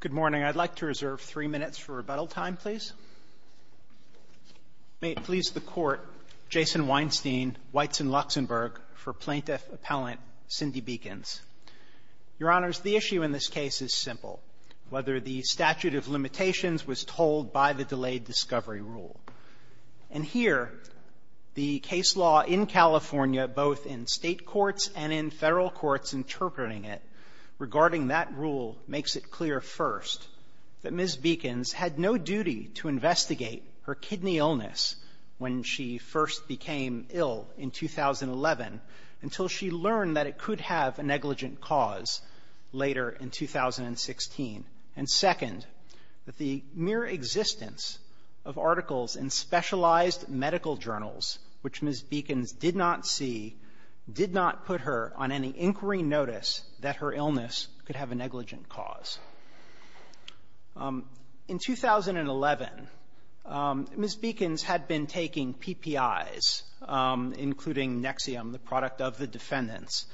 Good morning. I'd like to reserve three minutes for rebuttal time, please. May it please the Court, Jason Weinstein, Weitz and Luxenberg, for Plaintiff Appellant Cindi Bekins. Your Honors, the issue in this case is simple, whether the statute of limitations was told by the delayed discovery rule. And here, the case law in California, both in state courts and in federal courts interpreting it, regarding that rule makes it clear, first, that Ms. Bekins had no duty to investigate her kidney illness when she first became ill in 2011 until she learned that it could have a negligent cause later in 2016, and, second, that the mere existence of articles in specialized medical journals, which Ms. Bekins did not see, did not put her on any inquiry notice that her illness could have a negligent cause. In 2011, Ms. Bekins had been taking PPIs, including Nexium, the product of the defendants,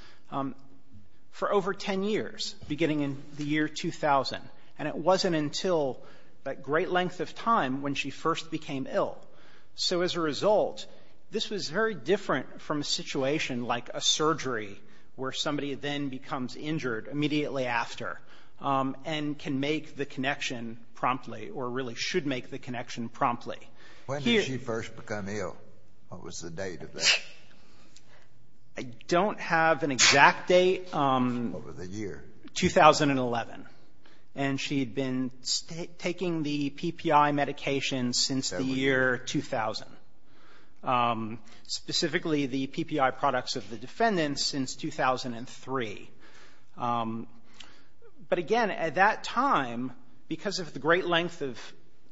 for over 10 years, beginning in the year 2000. And it wasn't until that great length of time when she first became ill. So as a result, this was very different from a situation like a surgery, where somebody then becomes injured immediately after and can make the connection promptly, or really should make the connection promptly. When did she first become ill? What was the date of that? I don't have an exact date. What was the year? 2011. And she had been taking the PPI medication since the year 2000, specifically the PPI products of the defendants since 2003. But again, at that time, because of the great length of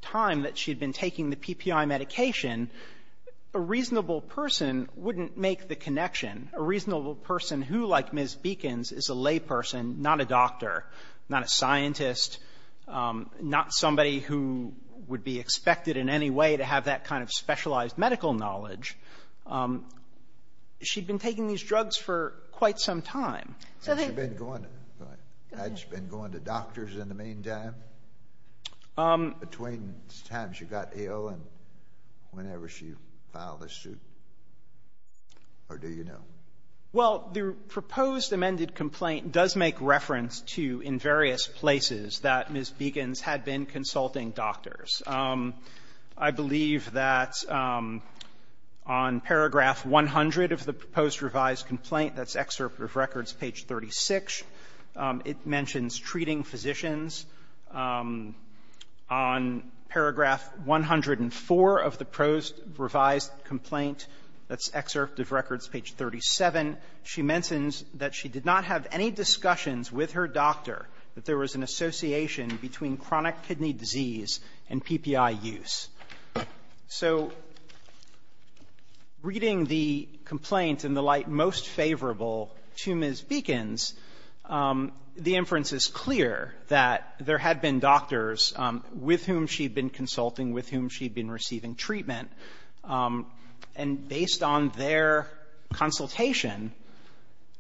time that she had been taking the PPI medication, a reasonable person wouldn't make the connection, a reasonable person who, like Ms. Bekins, is a layperson, not a doctor, not a scientist, not somebody who would be expected in any way to have that kind of specialized medical knowledge. She had been taking these drugs for quite some time. So they go on to doctors in the meantime, between the time she got ill and whenever she filed a suit. Or do you know? Well, the proposed amended complaint does make reference to, in various places, that Ms. Bekins had been consulting doctors. I believe that on paragraph 100 of the proposed revised complaint, that's Excerpt of Records, page 36, it mentions treating physicians. On paragraph 104 of the proposed revised complaint, that's Excerpt of Records, page 37, she mentions that she did not have any discussions with her doctor that there was an association between chronic kidney disease and PPI use. So reading the complaint in the light most favorable to Ms. Bekins, the inference is clear that there had been doctors with whom she'd been consulting, with whom she'd been receiving treatment, and based on their consultation,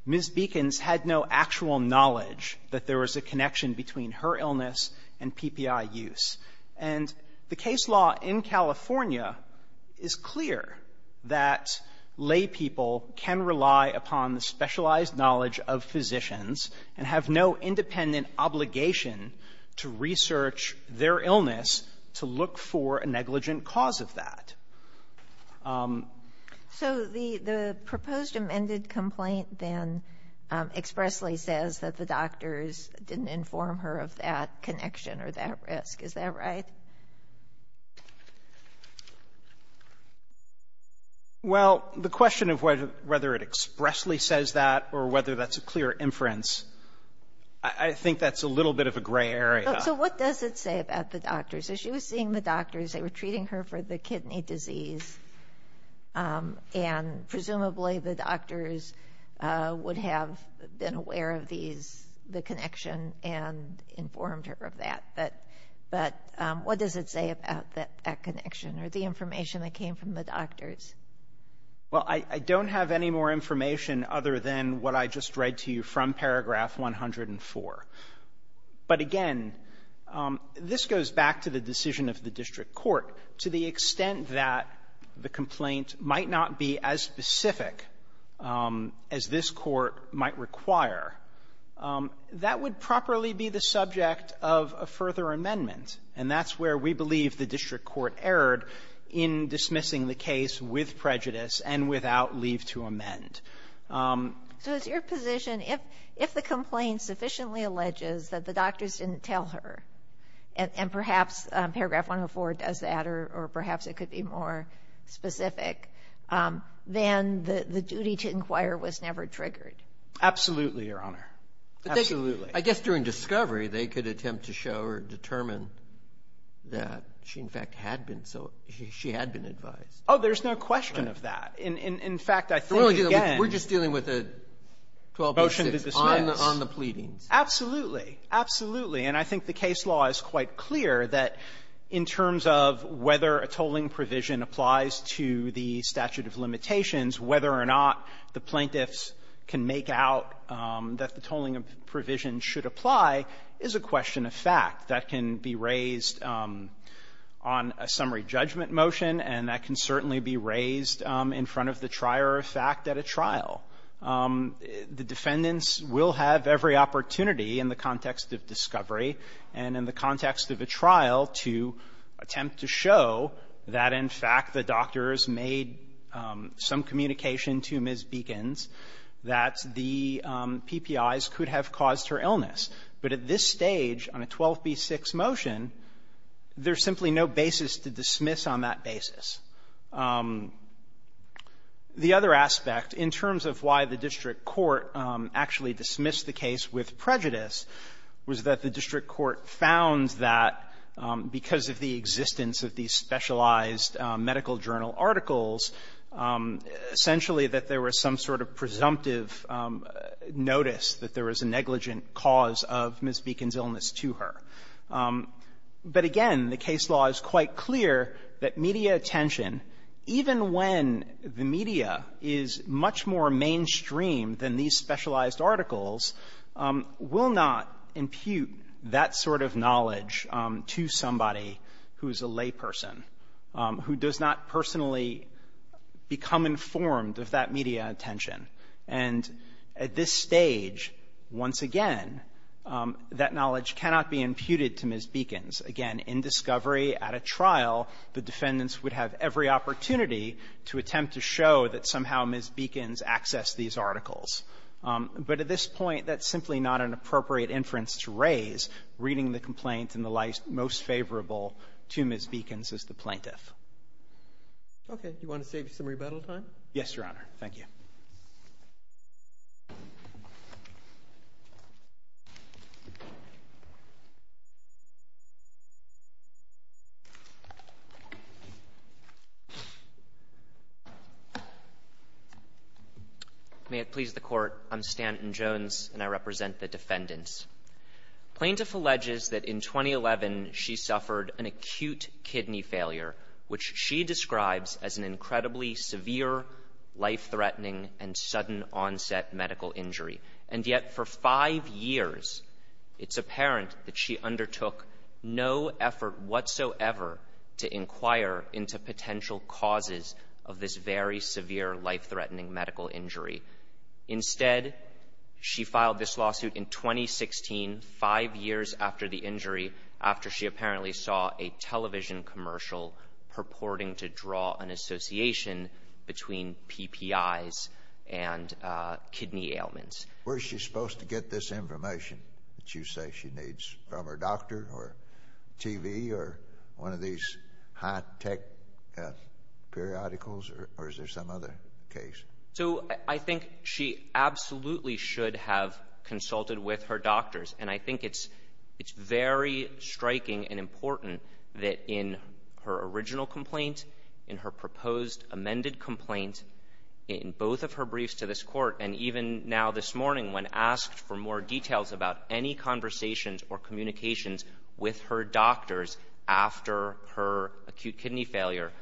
Ms. Bekins had no actual knowledge that there was a connection between her illness and PPI use. And the case law in California is clear that laypeople can rely upon the specialized knowledge of physicians and have no independent obligation to research their illness to look for a negligent cause of that. So the proposed amended complaint then expressly says that the doctors didn't inform her of that connection or that risk. Is that right? MR. BOUTROUS Well, the question of whether it expressly says that or whether that's a clear inference, I think that's a little bit of a gray area. MS. BEKINS So what does it say about the doctors? So she was seeing the doctors. They were treating her for the kidney disease, and presumably the doctors would have been aware of these, the connection, and informed her of that. But what does it say about that connection or the information that came from the doctors? MR. BOUTROUS Well, I don't have any more information other than what I just read to you from paragraph 104. But again, this goes back to the decision of the district court. To the extent that the complaint might not be as specific as this Court might require, that would properly be the subject of a further amendment. And that's where we believe the district court erred in dismissing the case with prejudice and without leave to amend. MS. BEKINS So it's your position, if the complaint sufficiently alleges that the doctors didn't tell her, and perhaps paragraph 104 does that or perhaps it could be more specific, then the duty to inquire was never triggered. MR. BOUTROUS Absolutely, Your Honor. Absolutely. CHIEF JUSTICE ROBERTS I guess during discovery, they could attempt to show or determine that she in fact had been so – she had been advised. MR. BOUTROUS Oh, there's no question of that. In fact, I think again… CHIEF JUSTICE ROBERTS We're just dealing with a 12-B6 on the pleadings. MR. BOUTROUS Absolutely. Absolutely. And I think the case law is quite clear that in terms of whether a tolling provision applies to the statute of limitations, whether or not the plaintiffs can make out that the tolling provision should apply is a question of fact. That can be raised on a summary judgment motion, and that can certainly be raised in front of the trier of fact at a trial. The defendants will have every opportunity in the context of discovery and in the context of a trial to attempt to show that, in fact, the doctors made some commitments to the plaintiffs communication to Ms. Beekins that the PPIs could have caused her illness. But at this stage on a 12-B6 motion, there's simply no basis to dismiss on that basis. The other aspect in terms of why the district court actually dismissed the case with prejudice was that the district court found that because of the existence of these essentially that there was some sort of presumptive notice that there was a negligent cause of Ms. Beekins' illness to her. But again, the case law is quite clear that media attention, even when the media is much more mainstream than these specialized articles, will not impute that sort of knowledge to somebody who is a layperson, attention. And at this stage, once again, that knowledge cannot be imputed to Ms. Beekins. Again, in discovery at a trial, the defendants would have every opportunity to attempt to show that somehow Ms. Beekins accessed these articles. But at this point, that's simply not an appropriate inference to raise, reading the complaint in the light most favorable to Ms. Beekins as the plaintiff. Okay. Do you want to save some rebuttal time? Yes, Your Honor. Thank you. May it please the Court, I'm Stanton Jones, and I represent the defendants. Plaintiff alleges that in 2011, she suffered an acute kidney failure, which she describes as an incredibly severe, life-threatening, and sudden-onset medical injury. And yet, for five years, it's apparent that she undertook no effort whatsoever to inquire into potential causes of this very severe, life-threatening medical injury. Instead, she filed this lawsuit in 2016, five years after the injury, after she apparently saw a television commercial purporting to draw an association between PPIs and kidney ailments. Where is she supposed to get this information that you say she needs, from her doctor or TV or one of these high-tech periodicals, or is there some other case? So, I think she absolutely should have consulted with her doctors. And I think it's very striking and important that in her original complaint, in her proposed amended complaint, in both of her briefs to this Court, and even now this morning, when asked for more details about any conversations or communications with her doctors after her acute kidney failure,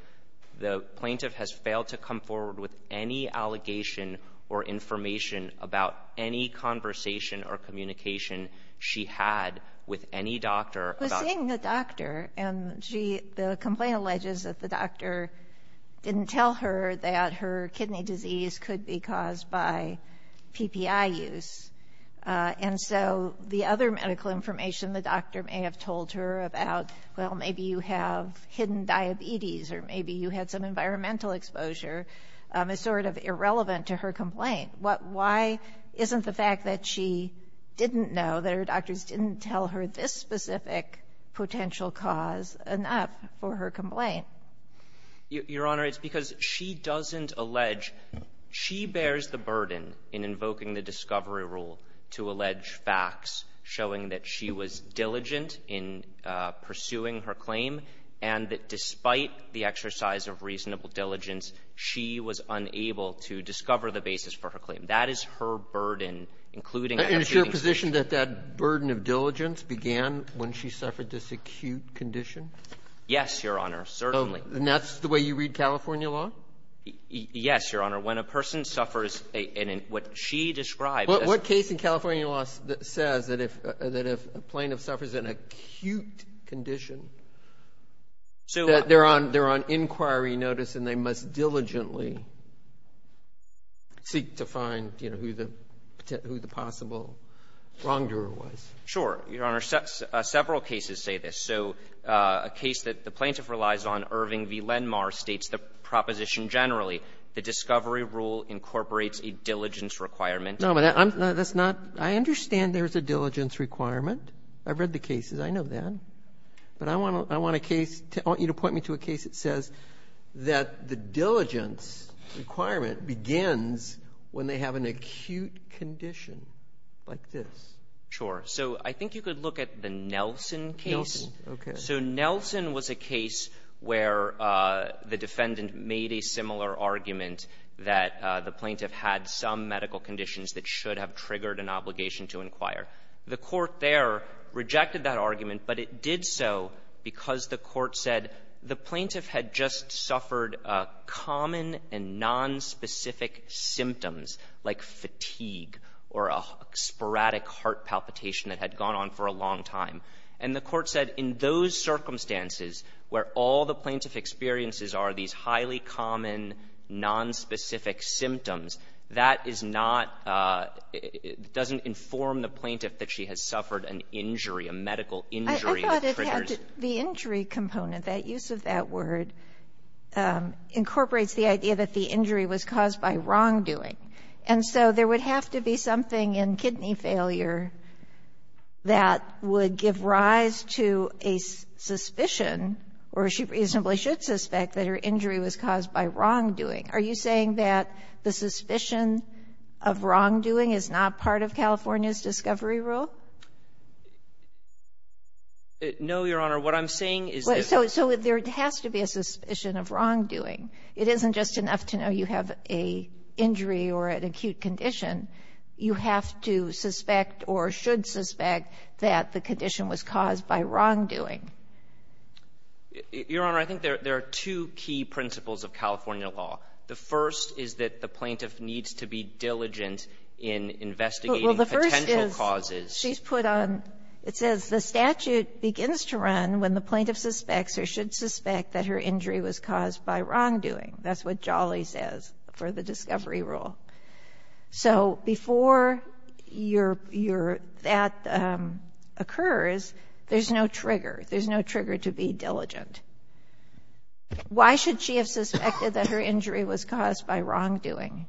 the plaintiff has failed to come forward with any allegation or information about any conversation or communication she had with any doctor about this. But seeing the doctor, and she the complaint alleges that the doctor didn't tell her that her kidney disease could be caused by PPI use. And so the other medical information the doctor may have told her about, well, maybe you have some environmental exposure, is sort of irrelevant to her complaint. Why isn't the fact that she didn't know, that her doctors didn't tell her this specific potential cause, enough for her complaint? Your Honor, it's because she doesn't allege. She bears the burden in invoking the discovery rule to allege facts showing that she was diligent in pursuing her claim, and that despite the exercise of reasonable diligence, she was unable to discover the basis for her claim. That is her burden, including the acute condition. And is your position that that burden of diligence began when she suffered this acute condition? Yes, Your Honor, certainly. And that's the way you read California law? Yes, Your Honor. When a person suffers a — and in what she described as — says that if a plaintiff suffers an acute condition, that they're on — they're on inquiry notice, and they must diligently seek to find, you know, who the — who the possible wrongdoer was. Sure. Your Honor, several cases say this. So a case that the plaintiff relies on, Irving v. Lenmar, states the proposition generally. The discovery rule incorporates a diligence requirement. No, but I'm — that's not — I understand there's a diligence requirement. I've read the cases. I know that. But I want to — I want a case — I want you to point me to a case that says that the diligence requirement begins when they have an acute condition, like this. Sure. So I think you could look at the Nelson case. Nelson. Okay. So Nelson was a case where the defendant made a similar argument that the plaintiff had some medical conditions that should have triggered an obligation to inquire. The court there rejected that argument, but it did so because the court said the plaintiff had just suffered common and nonspecific symptoms, like fatigue or a sporadic heart palpitation that had gone on for a long time. And the court said in those circumstances where all the plaintiff experiences are these highly common, nonspecific symptoms, that is not — doesn't inform the plaintiff that she has suffered an injury, a medical injury that triggers. I thought it had to — the injury component, that use of that word, incorporates the idea that the injury was caused by wrongdoing. And so there would have to be something in kidney failure that would give rise to a suspicion, or she reasonably should suspect, that her injury was caused by wrongdoing. Are you saying that the plaintiff should suspect that the suspicion of wrongdoing is not part of California's discovery rule? No, Your Honor. What I'm saying is that — So there has to be a suspicion of wrongdoing. It isn't just enough to know you have an injury or an acute condition. You have to suspect or should suspect that the condition was caused by wrongdoing. Your Honor, I think there are two key principles of California law. The first is that the plaintiff needs to be diligent in investigating potential Well, the first is, she's put on — it says the statute begins to run when the plaintiff suspects or should suspect that her injury was caused by wrongdoing. That's what Jolly says for the discovery rule. So before your — your — that occurs, there's no trigger. There's no trigger to be diligent. Why should she have suspected that her injury was caused by wrongdoing?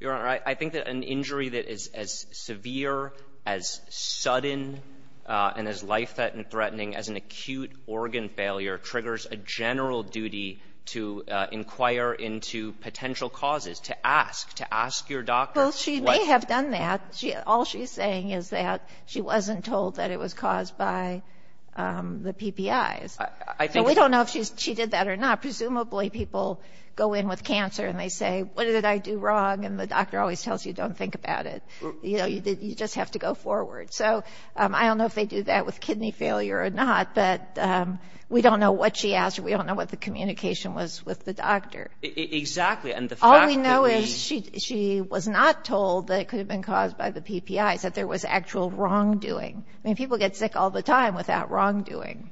Your Honor, I think that an injury that is as severe, as sudden, and as life-threatening as an acute organ failure triggers a general duty to inquire into potential causes, to ask, to ask your doctor what — Well, she may have done that. All she's saying is that she wasn't told that it was caused by the PPIs. I think — I mean, I don't know if she was told that, because that's the way people go in with cancer, and they say, what did I do wrong? And the doctor always tells you, don't think about it. You know, you just have to go forward. So I don't know if they do that with kidney failure or not, but we don't know what she asked or we don't know what the communication was with the doctor. Exactly. And the fact that we — All we know is she — she was not told that it could have been caused by the PPIs, that there was actual wrongdoing. I mean, people get sick all the time without wrongdoing.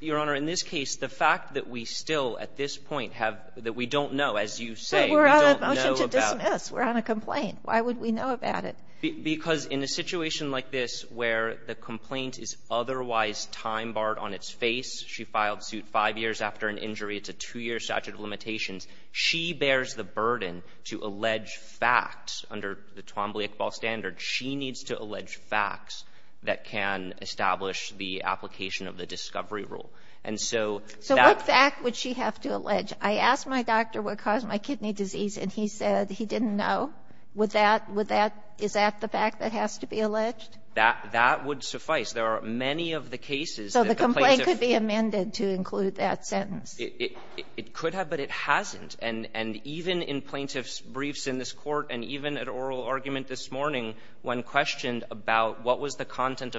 Your Honor, in this case, the fact that we still, at this point, have — that we don't know, as you say, we don't know about — But we're on a motion to dismiss. We're on a complaint. Why would we know about it? Because in a situation like this where the complaint is otherwise time-barred on its face, she filed suit five years after an injury, it's a two-year statute of limitations, she bears the burden to allege facts under the Twombly-Iqbal standard. She needs to allege facts that can establish the application of the decision and the discovery rule. And so — So what fact would she have to allege? I asked my doctor what caused my kidney disease, and he said he didn't know. Would that — would that — is that the fact that has to be alleged? That — that would suffice. There are many of the cases that the plaintiff — So the complaint could be amended to include that sentence. It — it could have, but it hasn't. And — and even in plaintiff's briefs in this court, and even at oral argument this morning, when questioned about what was the existence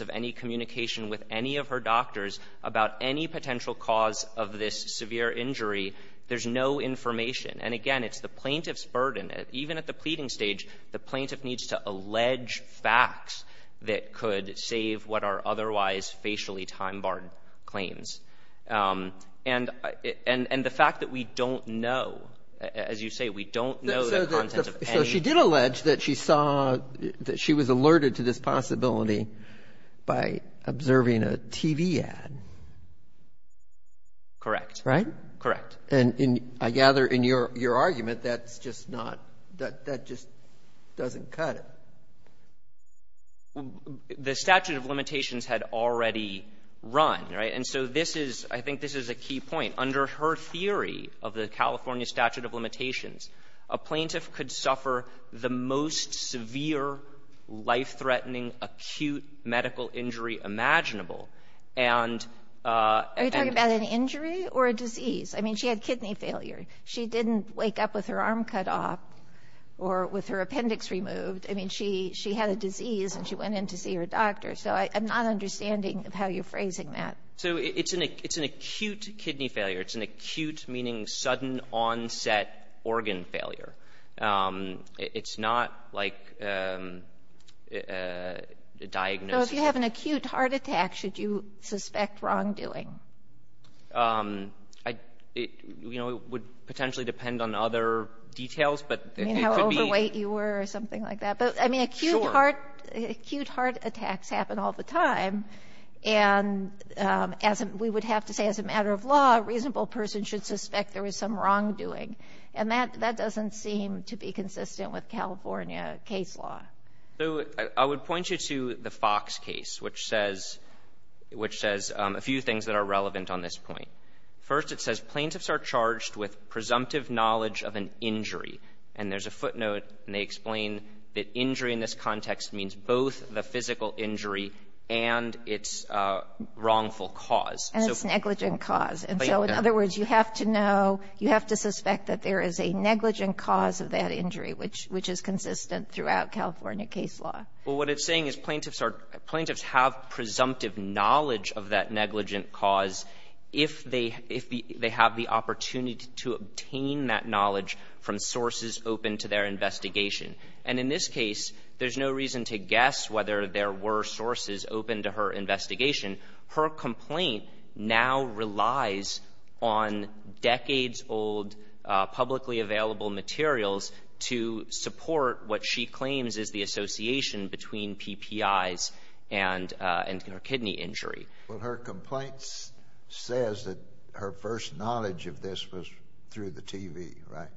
of any communication with any of her doctors about any potential cause of this severe injury, there's no information. And again, it's the plaintiff's burden. Even at the pleading stage, the plaintiff needs to allege facts that could save what are otherwise facially time-barred claims. And — and the fact that we don't know — as you say, we don't know the contents of any — by observing a TV ad. Correct. Right? Correct. And in — I gather in your — your argument, that's just not — that — that just doesn't cut it. The statute of limitations had already run, right? And so this is — I think this is a key point. Under her theory of the California statute of limitations, a plaintiff could suffer the most severe, life-threatening, acute medical injury imaginable. And — Are you talking about an injury or a disease? I mean, she had kidney failure. She didn't wake up with her arm cut off or with her appendix removed. I mean, she — she had a disease, and she went in to see her doctor. So I'm not understanding how you're phrasing that. So it's an — it's an acute kidney failure. It's an acute, meaning sudden-onset organ failure. It's not like a diagnosis. So if you have an acute heart attack, should you suspect wrongdoing? I — you know, it would potentially depend on other details, but it could be — I mean, how overweight you were or something like that. Sure. I mean, acute heart — acute heart attacks happen all the time. And as a — we would have to say, as a matter of law, a reasonable person should suspect there was some wrongdoing. And that — that doesn't seem to be consistent with California case law. So I would point you to the Fox case, which says — which says a few things that are relevant on this point. First, it says, Plaintiffs are charged with presumptive knowledge of an injury. And there's a footnote, and they explain that injury in this context means both the physical injury and its wrongful cause. And it's negligent cause. And so, in other words, you have to know — you have to suspect that there is a negligent cause of that injury, which — which is consistent throughout California case law. Well, what it's saying is Plaintiffs are — Plaintiffs have presumptive knowledge of that negligent cause if they — if they have the opportunity to obtain that knowledge from sources open to their investigation. And in this case, there's no reason to guess whether there were sources open to her investigation. Her complaint now relies on decades-old, publicly available materials to support what she claims is the association between PPIs and — and her kidney injury. Well, her complaint says that her first knowledge of this was through the TV, right?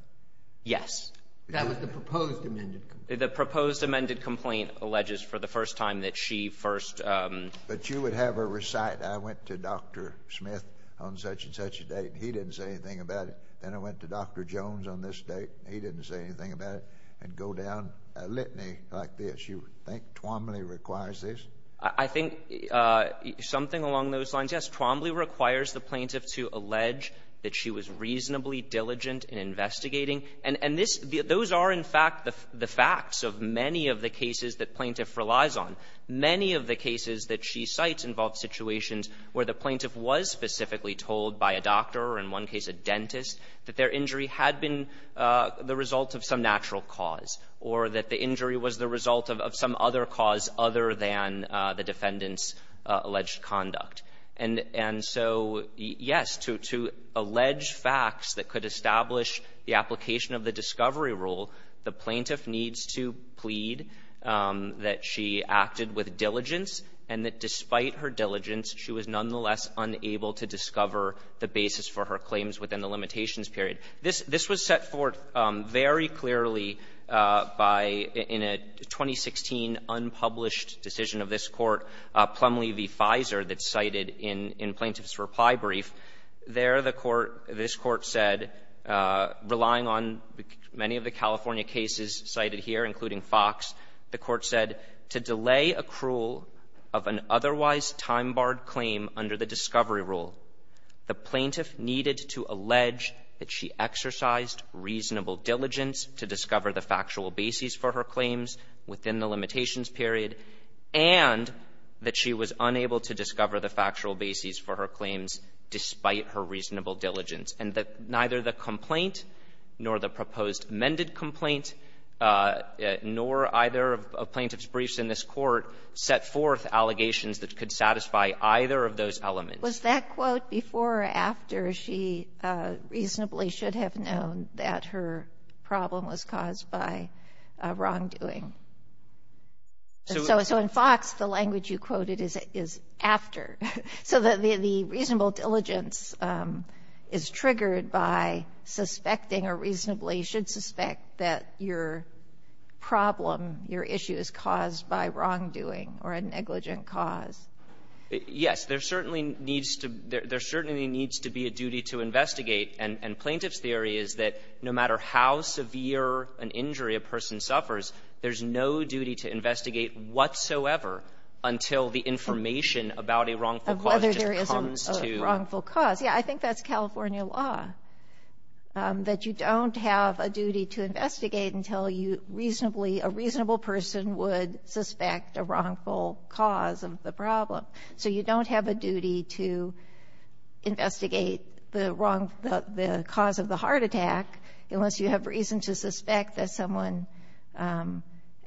Yes. That was the proposed amended complaint. The proposed amended complaint alleges for the first time that she first — But you would have her recite, I went to Dr. Smith on such-and-such a date, and he didn't say anything about it. Then I went to Dr. Jones on this date, and he didn't say anything about it, and go down a litany like this. You think Tuomaley requires this? I think something along those lines, yes. Tuomaley requires the Plaintiff to allege that she was reasonably diligent in investigating. And this — those are, in fact, the facts of many of the cases that Plaintiff relies on. Many of the cases that she cites involve situations where the Plaintiff was specifically told by a doctor or, in one case, a dentist, that their injury had been the result of some natural cause, or that the injury was the result of some other cause other than the defendant's alleged conduct. And — and so, yes, to — to allege facts that could establish the application of the discovery rule, the Plaintiff needs to plead that she acted with diligence, and that despite her diligence, she was nonetheless unable to discover the basis for her claims within the limitations period. This — this was set forth very clearly by — in a 2016 unpublished decision that the plaintiff of this Court, Plumlee v. Fizer, that's cited in — in Plaintiff's reply brief. There, the Court — this Court said, relying on many of the California cases cited here, including Fox, the Court said, to delay accrual of an otherwise time-barred claim under the discovery rule, the Plaintiff needed to allege that she exercised reasonable diligence to discover the factual basis for her claims within the limitations period, and that she was unable to discover the factual basis for her claims despite her reasonable diligence, and that neither the complaint nor the proposed amended complaint, nor either of Plaintiff's briefs in this Court, set forth allegations that could satisfy either of those elements. Sotomayor, was that quote before or after she reasonably should have known that her problem was caused by wrongdoing? So in Fox, the language you quoted is after. So the reasonable diligence is triggered by suspecting or reasonably should suspect that your problem, your issue is caused by wrongdoing or a negligent cause. Yes. There certainly needs to — there certainly needs to be a duty to investigate. And Plaintiff's theory is that no matter how severe an injury a person suffers, there's no duty to investigate whatsoever until the information about a wrongful cause just comes to you. Of whether there is a wrongful cause. Yes. I think that's California law, that you don't have a duty to investigate until you reasonably — a reasonable person would suspect a wrongful cause of the problem. So you don't have a duty to investigate the wrong — the cause of the heart attack unless you have reason to suspect that someone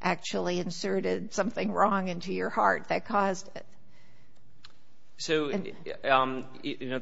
actually inserted something wrong into your heart that caused it. So, you know,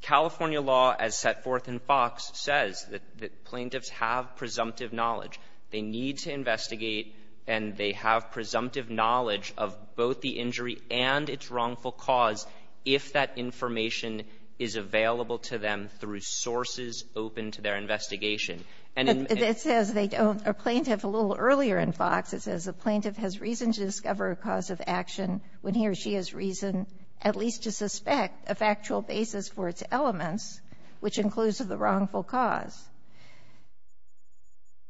California law as set forth in Fox says that Plaintiffs have presumptive knowledge. They need to investigate, and they have presumptive knowledge of both the injury and its wrongful cause if that information is available to them through sources open to their investigation. And in — But it says they don't — a Plaintiff a little earlier in Fox, it says a Plaintiff has reason to discover a cause of action when he or she has reason at least to suspect a factual basis for its elements, which includes the wrongful cause.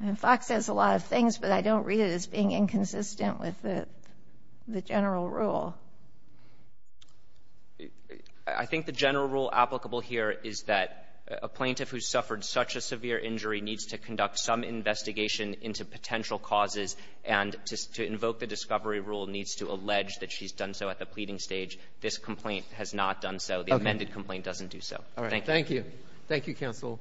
And Fox says a lot of things, but I don't read it as being inconsistent with the — the general rule. I think the general rule applicable here is that a Plaintiff who suffered such a severe injury needs to conduct some investigation into potential causes, and to — to invoke the discovery rule needs to allege that she's done so at the pleading stage. This complaint has not done so. The amended complaint doesn't do so. Thank you. Thank you. Thank you, counsel.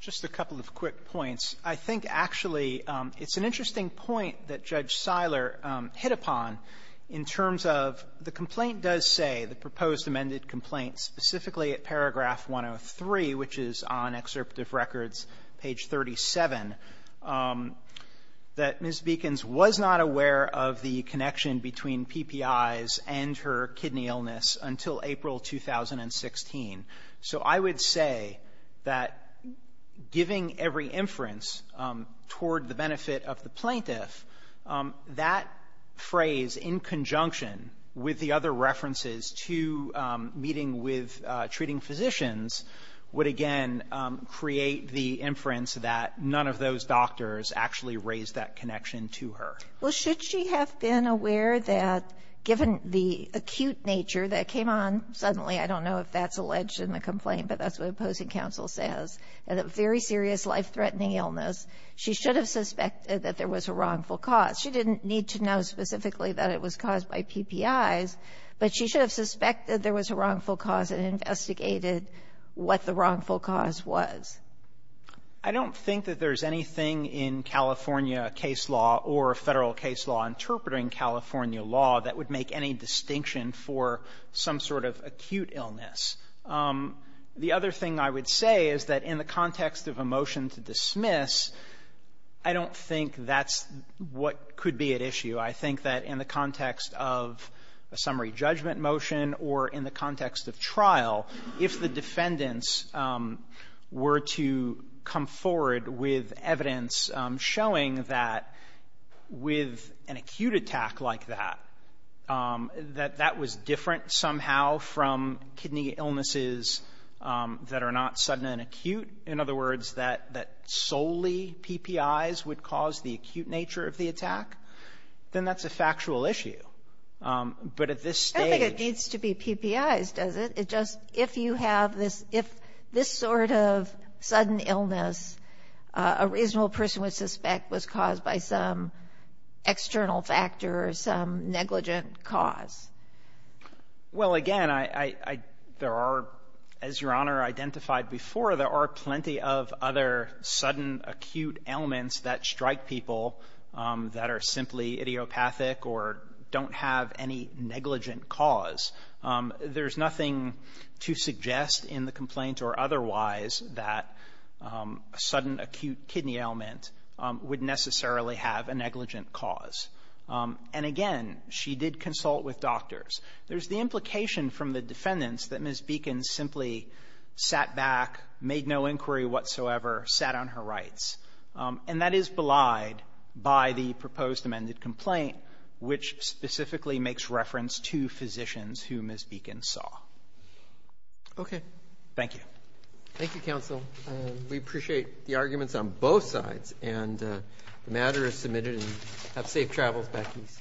Just a couple of quick points. I think, actually, it's an interesting point that Judge Siler hit upon in terms of the complaint does say, the proposed amended complaint specifically at paragraph 103, which is on Excerptive Records, page 37, that Ms. Beekins was not aware of the connection between PPIs and her kidney illness until April 2016. So I would say that giving every inference toward the benefit of the Plaintiff, that phrase in conjunction with the other references to meeting with treating physicians would, again, create the inference that none of those doctors actually raised that connection to her. Well, should she have been aware that, given the acute nature that came on suddenly — I don't know if that's alleged in the complaint, but that's what opposing counsel says — that a very serious, life-threatening illness, she should have suspected that there was a wrongful cause. She didn't need to know specifically that it was caused by PPIs, but she should have suspected there was a wrongful cause and investigated what the wrongful cause was. I don't think that there's anything in California case law or Federal case law interpreting California law that would make any distinction for some sort of acute illness. The other thing I would say is that in the context of a motion to dismiss, I don't think that's what could be at issue. I think that in the context of a summary judgment motion or in the context of trial, if the defendants were to come forward with evidence showing that with an acute attack like that, that that was different somehow from kidney illnesses that are not sudden and acute, in other words, that solely PPIs would cause the acute nature of the attack, then that's a factual issue. But at this stage — I don't think it needs to be PPIs, does it? Just if you have this — if this sort of sudden illness a reasonable person would suspect was caused by some external factor or some negligent cause. Well, again, I — there are, as Your Honor identified before, there are plenty of other sudden acute ailments that strike people that are simply idiopathic or don't have any negligent cause. There's nothing to suggest in the complaint or otherwise that a sudden acute kidney ailment would necessarily have a negligent cause. And again, she did consult with doctors. There's the implication from the defendants that Ms. Beacon simply sat back, made no inquiry whatsoever, sat on her rights. And that is belied by the proposed amended complaint, which specifically makes reference to physicians who Ms. Beacon saw. Okay. Thank you. Thank you, counsel. We appreciate the arguments on both sides. And the matter is submitted, and have safe travels back east.